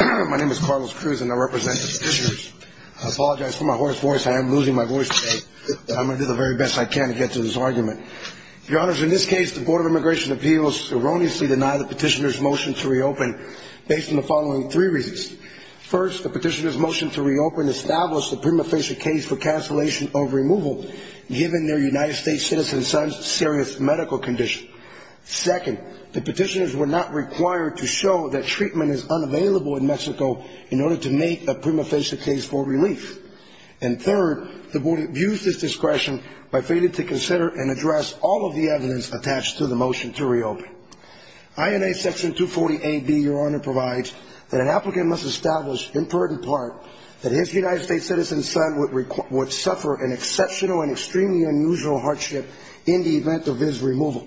My name is Carlos Cruz and I represent the petitioners. I apologize for my hoarse voice. I am losing my voice today. But I'm going to do the very best I can to get to this argument. Your Honors, in this case, the Board of Immigration Appeals erroneously denied the petitioners' motion to reopen based on the following three reasons. First, the petitioners' motion to reopen established the prima facie case for cancellation of removal given their United States citizen son's serious medical condition. Second, the petitioners were not required to show that treatment is unavailable in Mexico in order to make a prima facie case for relief. And third, the Board abused its discretion by failing to consider and address all of the evidence attached to the motion to reopen. INA Section 240A-B, Your Honor, provides that an applicant must establish, inferred in part, that his United States citizen son would suffer an exceptional and extremely unusual hardship in the event of his removal.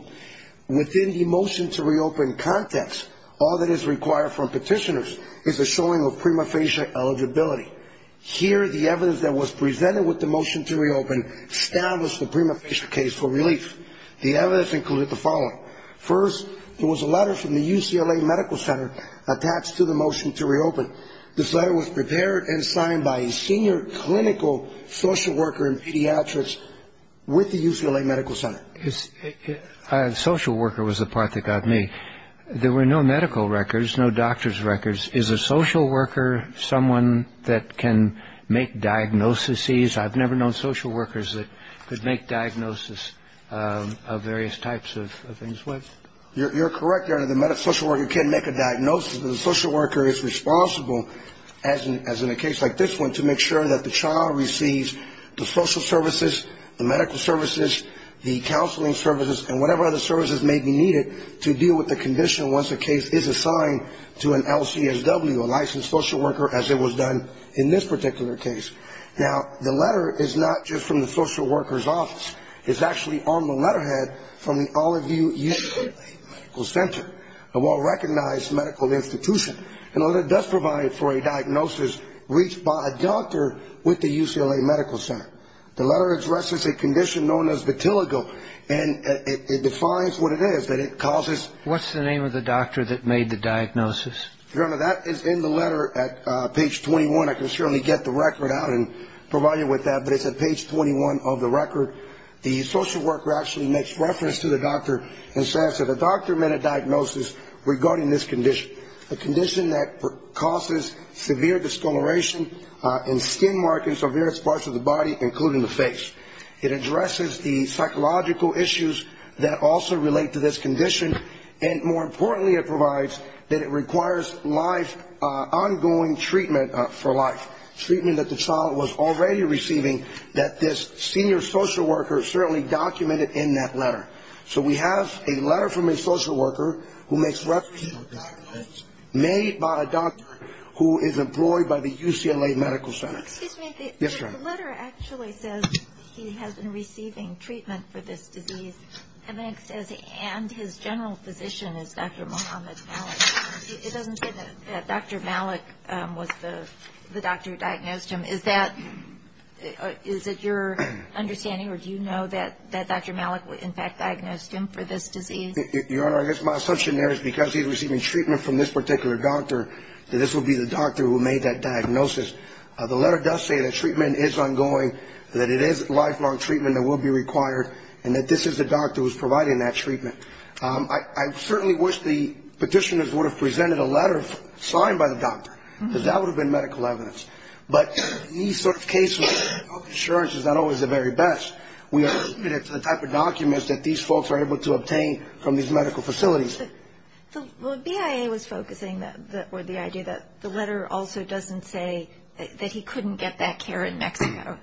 Within the motion to reopen context, all that is required from petitioners is a showing of prima facie eligibility. Here, the evidence that was presented with the motion to reopen established the prima facie case for relief. The evidence included the following. First, there was a letter from the UCLA Medical Center attached to the motion to reopen. This letter was prepared and signed by a senior clinical social worker in pediatrics with the UCLA Medical Center. A social worker was the part that got me. There were no medical records, no doctor's records. Is a social worker someone that can make diagnoses? I've never known social workers that could make diagnoses of various types of things. You're correct, Your Honor. The social worker can make a diagnosis. The social worker is responsible, as in a case like this one, to make sure that the child receives the social services, the medical services, the counseling services, and whatever other services may be needed to deal with the condition once a case is assigned to an LCSW, a licensed social worker, as it was done in this particular case. Now, the letter is not just from the social worker's office. It's actually on the letterhead from the Olive View UCLA Medical Center, a well-recognized medical institution. The letter does provide for a diagnosis reached by a doctor with the UCLA Medical Center. The letter addresses a condition known as vitiligo, and it defines what it is, that it causes. What's the name of the doctor that made the diagnosis? Your Honor, that is in the letter at page 21. I can certainly get the record out and provide you with that, but it's at page 21 of the record. The social worker actually makes reference to the doctor and says that the doctor made a diagnosis regarding this condition, a condition that causes severe discoloration and skin markings on various parts of the body, including the face. It addresses the psychological issues that also relate to this condition, and more importantly, it provides that it requires ongoing treatment for life, treatment that the child was already receiving that this senior social worker certainly documented in that letter. So we have a letter from a social worker who makes reference to a diagnosis made by a doctor who is employed by the UCLA Medical Center. Excuse me. Yes, Your Honor. The letter actually says he has been receiving treatment for this disease, and his general physician is Dr. Mohamed Malik. It doesn't say that Dr. Malik was the doctor who diagnosed him. Is that your understanding, or do you know that Dr. Malik in fact diagnosed him for this disease? Your Honor, I guess my assumption there is because he's receiving treatment from this particular doctor, that this would be the doctor who made that diagnosis. The letter does say that treatment is ongoing, that it is lifelong treatment that will be required, and that this is the doctor who is providing that treatment. I certainly wish the petitioners would have presented a letter signed by the doctor, because that would have been medical evidence. But these sort of cases, health insurance is not always the very best. We have submitted the type of documents that these folks are able to obtain from these medical facilities. The BIA was focusing on the idea that the letter also doesn't say that he couldn't get that care in Mexico.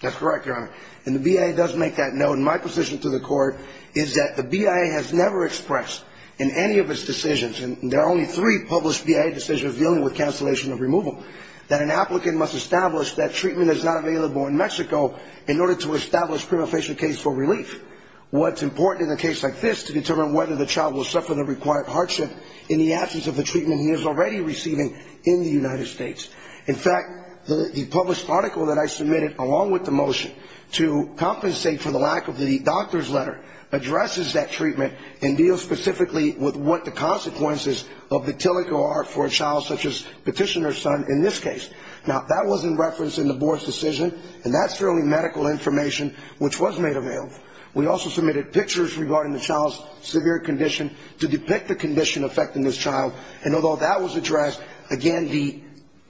That's correct, Your Honor. And the BIA does make that note. My position to the court is that the BIA has never expressed in any of its decisions, and there are only three published BIA decisions dealing with cancellation of removal, that an applicant must establish that treatment is not available in Mexico in order to establish prima facie case for relief. What's important in a case like this to determine whether the child will suffer the required hardship in the absence of the treatment he is already receiving in the United States. In fact, the published article that I submitted, along with the motion, to compensate for the lack of the doctor's letter addresses that treatment and deals specifically with what the consequences of the TILIC are for a child such as petitioner's son in this case. Now, that was in reference in the board's decision, and that's the only medical information which was made available. We also submitted pictures regarding the child's severe condition to depict the condition affecting this child, and although that was addressed, again,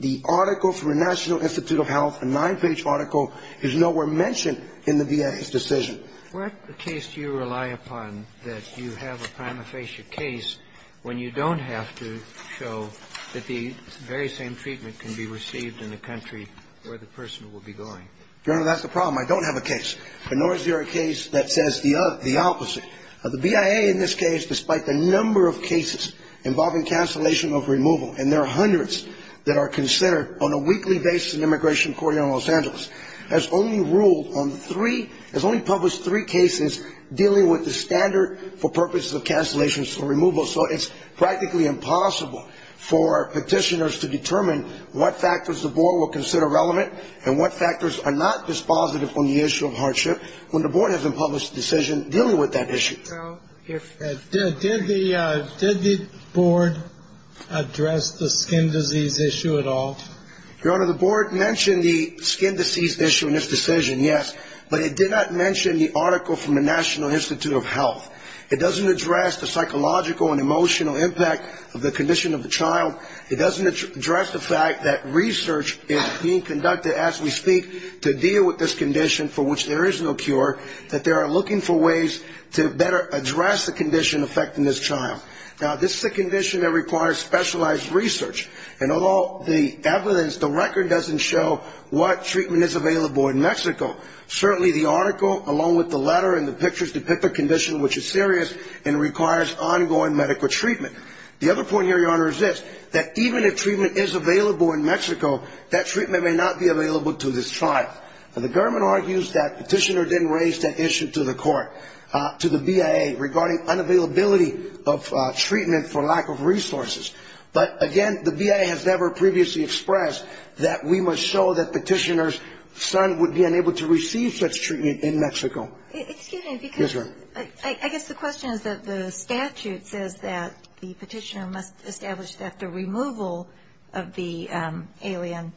the article from the National Institute of Health, a nine-page article, is nowhere mentioned in the BIA's decision. What case do you rely upon that you have a prima facie case when you don't have to show that the very same treatment can be received in the country where the person will be going? Your Honor, that's the problem. I don't have a case, nor is there a case that says the opposite. The BIA, in this case, despite the number of cases involving cancellation of removal, and there are hundreds that are considered on a weekly basis in immigration court here in Los Angeles, has only ruled on three, has only published three cases dealing with the standard for purposes of cancellation of removal, so it's practically impossible for petitioners to determine what factors the board will consider relevant and what factors are not dispositive on the issue of hardship when the board hasn't published a decision dealing with that issue. Did the board address the skin disease issue at all? Your Honor, the board mentioned the skin disease issue in its decision, yes, but it did not mention the article from the National Institute of Health. It doesn't address the psychological and emotional impact of the condition of the child. It doesn't address the fact that research is being conducted as we speak to deal with this condition for which there is no cure, that they are looking for ways to better address the condition affecting this child. Now, this is a condition that requires specialized research, and although the evidence, the record doesn't show what treatment is available in Mexico, certainly the article, along with the letter and the pictures depict the condition which is serious and requires ongoing medical treatment. The other point here, Your Honor, is this, that even if treatment is available in Mexico, that treatment may not be available to this child. Now, the government argues that Petitioner didn't raise that issue to the court, to the BIA, regarding unavailability of treatment for lack of resources. But again, the BIA has never previously expressed that we must show that Petitioner's son would be unable to receive such treatment in Mexico. Excuse me, because I guess the question is that the statute says that the Petitioner must establish that the removal of the alien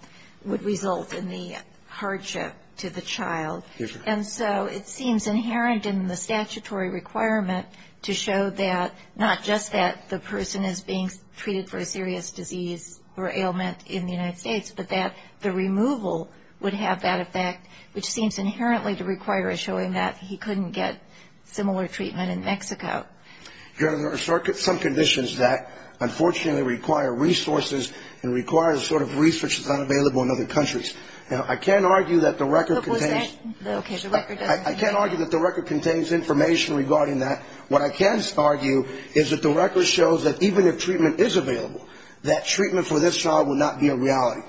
would result in the hardship to the child. And so it seems inherent in the statutory requirement to show that, not just that the person is being treated for a serious disease or ailment in the United States, but that the removal would have that effect, which seems inherently to require a showing Your Honor, there are some conditions that, unfortunately, require resources and require the sort of research that's unavailable in other countries. Now, I can't argue that the record contains information regarding that. What I can argue is that the record shows that even if treatment is available, that treatment for this child would not be a reality.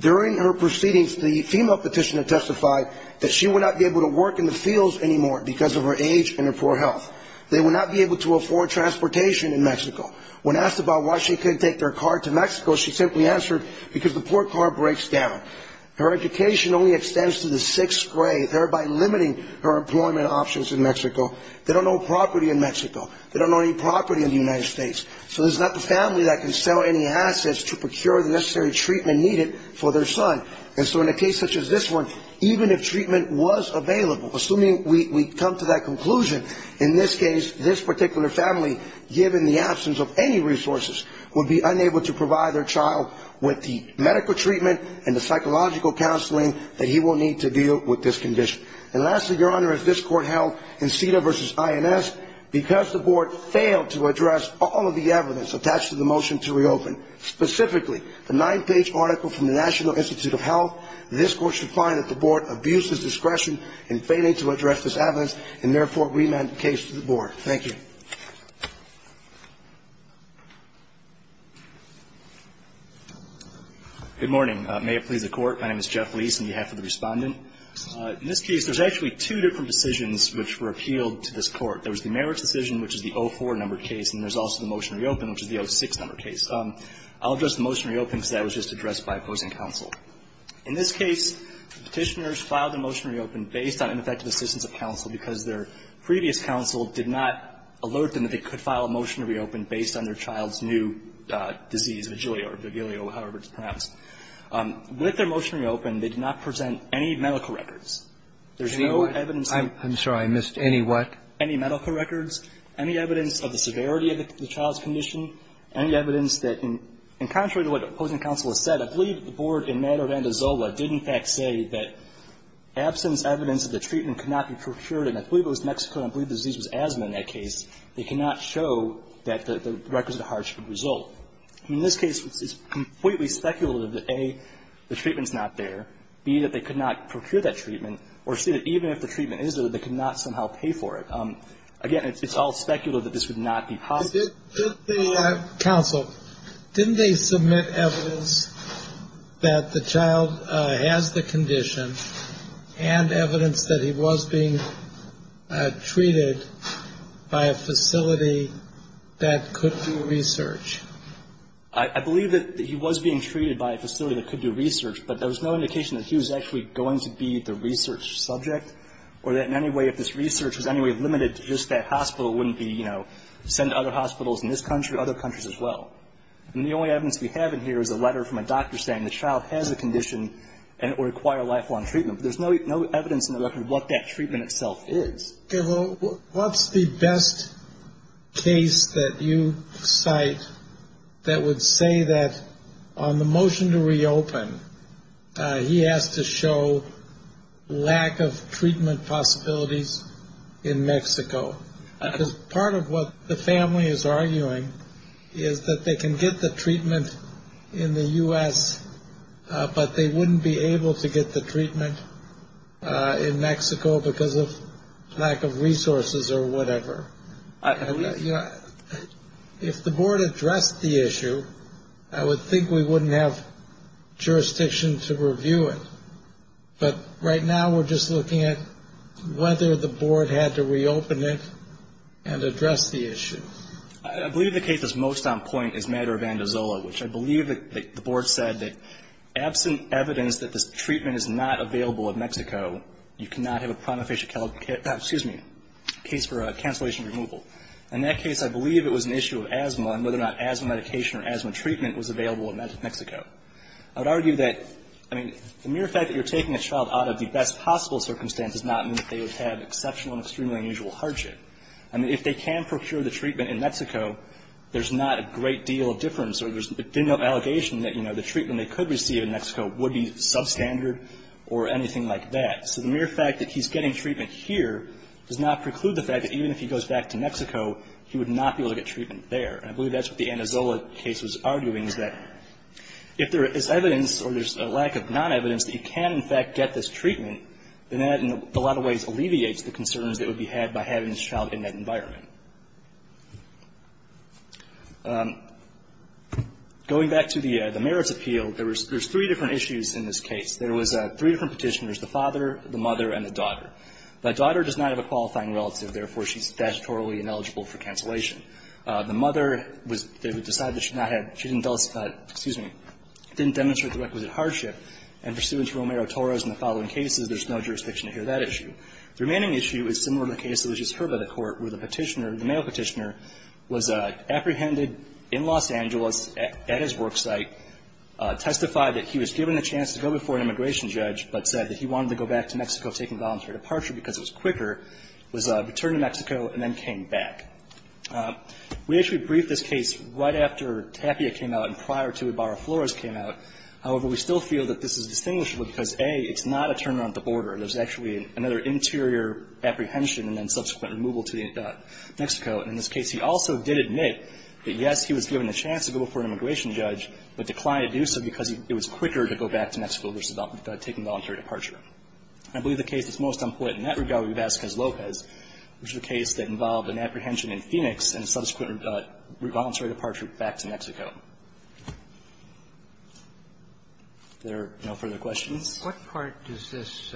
During her proceedings, the female Petitioner testified that she would not be able to work in the fields anymore because of her age and her poor health. They would not be able to afford transportation in Mexico. When asked about why she couldn't take their car to Mexico, she simply answered, because the poor car breaks down. Her education only extends to the sixth grade, thereby limiting her employment options in Mexico. They don't own property in Mexico. They don't own any property in the United States. So there's not the family that can sell any assets to procure the necessary treatment needed for their son. And so in a case such as this one, even if treatment was available, assuming we come to that conclusion, in this case, this particular family, given the absence of any resources, would be unable to provide their child with the medical treatment and the psychological counseling that he will need to deal with this condition. And lastly, Your Honor, as this Court held in CEDA v. INS, because the Board failed to address all of the evidence attached to the motion to reopen, specifically the nine-page article from the National Institute of Health, this Court should find that the Board abuses discretion in failing to address this evidence and therefore remand the case to the Board. Thank you. Good morning. May it please the Court. My name is Jeff Leis on behalf of the Respondent. In this case, there's actually two different decisions which were appealed to this Court. There was the merits decision, which is the 04 number case, and there's also the motion to reopen, which is the 06 number case. I'll address the motion to reopen because that was just addressed by opposing counsel. In this case, Petitioners filed a motion to reopen based on ineffective assistance of counsel because their previous counsel did not alert them that they could file a motion to reopen based on their child's new disease, Vigilio or Vigilio, however it's pronounced. With their motion to reopen, they did not present any medical records. There's no evidence that they presented. I'm sorry. I missed any what? Any medical records, any evidence of the severity of the child's condition, any evidence that in contrary to what opposing counsel has said, I believe the Board in matter of Andazola did in fact say that absence evidence of the treatment could not be procured, and I believe it was Mexico and I believe the disease was asthma in that case. They cannot show that the records of the hardship result. In this case, it's completely speculative that, A, the treatment's not there, B, that they could not procure that treatment, or C, that even if the treatment is there, they could not somehow pay for it. Again, it's all speculative that this would not be possible. Counsel, didn't they submit evidence that the child has the condition and evidence that he was being treated by a facility that could do research? I believe that he was being treated by a facility that could do research, but there was no indication that he was actually going to be the research subject or that in any way if this research was any way limited to just that hospital wouldn't he, you know, send to other hospitals in this country or other countries as well. And the only evidence we have in here is a letter from a doctor saying the child has a condition and it would require lifelong treatment. There's no evidence in the record what that treatment itself is. Okay. Well, what's the best case that you cite that would say that on the motion to reopen he has to show lack of treatment possibilities in Mexico? Because part of what the family is arguing is that they can get the treatment in the U.S., but they wouldn't be able to get the treatment in Mexico because of lack of resources or whatever. If the board addressed the issue, I would think we wouldn't have jurisdiction to review it. But right now we're just looking at whether the board had to reopen it and address the issue. I believe the case that's most on point is Maduro-Vandizola, which I believe the board said that absent evidence that this treatment is not available in Mexico, you cannot have a case for cancellation removal. In that case, I believe it was an issue of asthma and whether or not asthma medication or asthma treatment was available in Mexico. I would argue that, I mean, the mere fact that you're taking a child out of the best possible circumstance does not mean that they would have exceptional and extremely unusual hardship. I mean, if they can procure the treatment in Mexico, there's not a great deal of difference or there's no allegation that, you know, the treatment they could receive in Mexico would be substandard or anything like that. So the mere fact that he's getting treatment here does not preclude the fact that even if he goes back to Mexico, he would not be able to get treatment there. And I believe that's what the Vandizola case was arguing, is that if there is evidence or there's a lack of non-evidence that he can in fact get this treatment, then that in a lot of ways alleviates the concerns that would be had by having this child in that environment. Going back to the merits appeal, there's three different issues in this case. There was three different Petitioners, the father, the mother, and the daughter. The daughter does not have a qualifying relative. Therefore, she's statutorily ineligible for cancellation. The mother was they would decide that she not had, she didn't, excuse me, didn't demonstrate the requisite hardship. And pursuant to Romero-Torres and the following cases, there's no jurisdiction to hear that issue. The remaining issue is similar to the case that was just heard by the Court, where the Petitioner, the male Petitioner, was apprehended in Los Angeles at his work site, testified that he was given the chance to go before an immigration judge, but said that he wanted to go back to Mexico taking voluntary departure because it was quicker, was returned to Mexico and then came back. We actually briefed this case right after Tapia came out and prior to Ibarra-Flores came out. However, we still feel that this is distinguishable because, A, it's not a turnaround at the border. There's actually another interior apprehension and then subsequent removal to Mexico. And in this case, he also did admit that, yes, he was given the chance to go before an immigration judge, but declined to do so because it was quicker to go back to Mexico versus taking voluntary departure. I believe the case that's most unpopular in that regard would be Vasquez-Lopez, which is a case that involved an apprehension in Phoenix and a subsequent voluntary departure back to Mexico. If there are no further questions. Kennedy. What part does this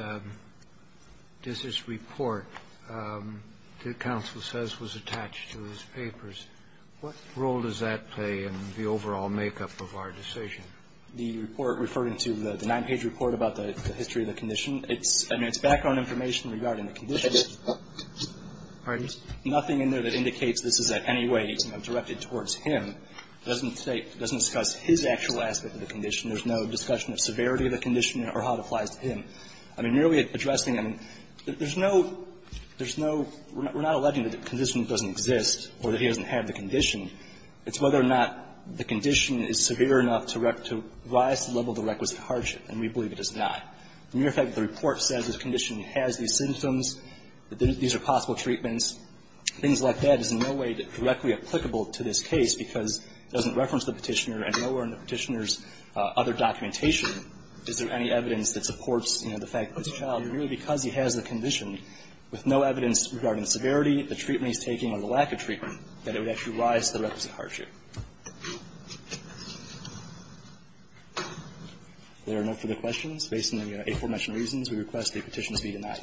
report that counsel says was attached to his papers, what role does that play in the overall makeup of our decision? The report referring to the nine-page report about the history of the condition, it's background information regarding the condition. Nothing in there that indicates this is in any way directed towards him. It doesn't discuss his actual aspect of the condition. There's no discussion of severity of the condition or how it applies to him. I mean, really addressing him, there's no we're not alleging that the condition doesn't exist or that he doesn't have the condition. It's whether or not the condition is severe enough to rise to the level of the requisite hardship, and we believe it is not. As a matter of fact, the report says this condition has these symptoms, that these are possible treatments. Things like that is in no way directly applicable to this case because it doesn't reference the Petitioner and nowhere in the Petitioner's other documentation is there any evidence that supports, you know, the fact that it's a child and really because he has the condition with no evidence regarding the severity, the treatment he's taking or the lack of treatment, that it would actually rise to the requisite hardship. Thank you. There are no further questions. Based on the aforementioned reasons, we request the petition to be denied.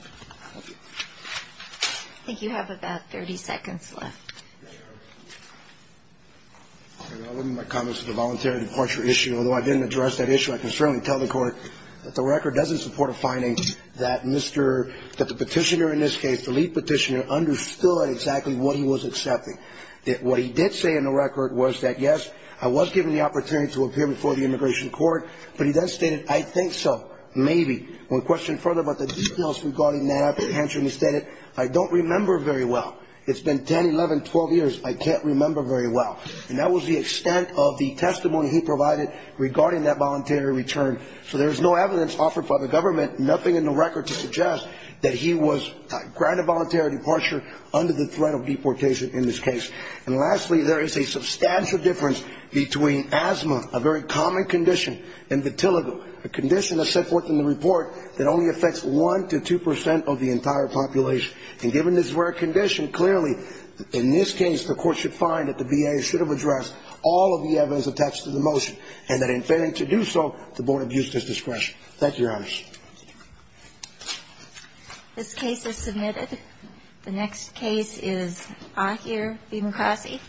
Thank you. I think you have about 30 seconds left. I'll leave my comments to the voluntary departure issue. Although I didn't address that issue, I can certainly tell the Court that the record doesn't support a finding that Mr. the Petitioner in this case, the lead Petitioner, understood exactly what he was accepting. What he did say in the record was that, yes, I was given the opportunity to appear before the Immigration Court, but he then stated, I think so, maybe. One question further about the details regarding that, I'll answer instead, I don't remember very well. It's been 10, 11, 12 years. I can't remember very well. And that was the extent of the testimony he provided regarding that voluntary return. So there's no evidence offered by the government, nothing in the record to suggest that he was granted voluntary departure under the threat of deportation in this case. And lastly, there is a substantial difference between asthma, a very common condition, and vitiligo, a condition that's set forth in the report that only affects 1 to 2 percent of the entire population. And given this rare condition, clearly, in this case, the Court should find that the VA should have addressed all of the evidence attached to the motion, and that in failing to do so, the Board abused its discretion. Thank you, Your Honors. This case is submitted. The next case is Ahir V. Mukasey.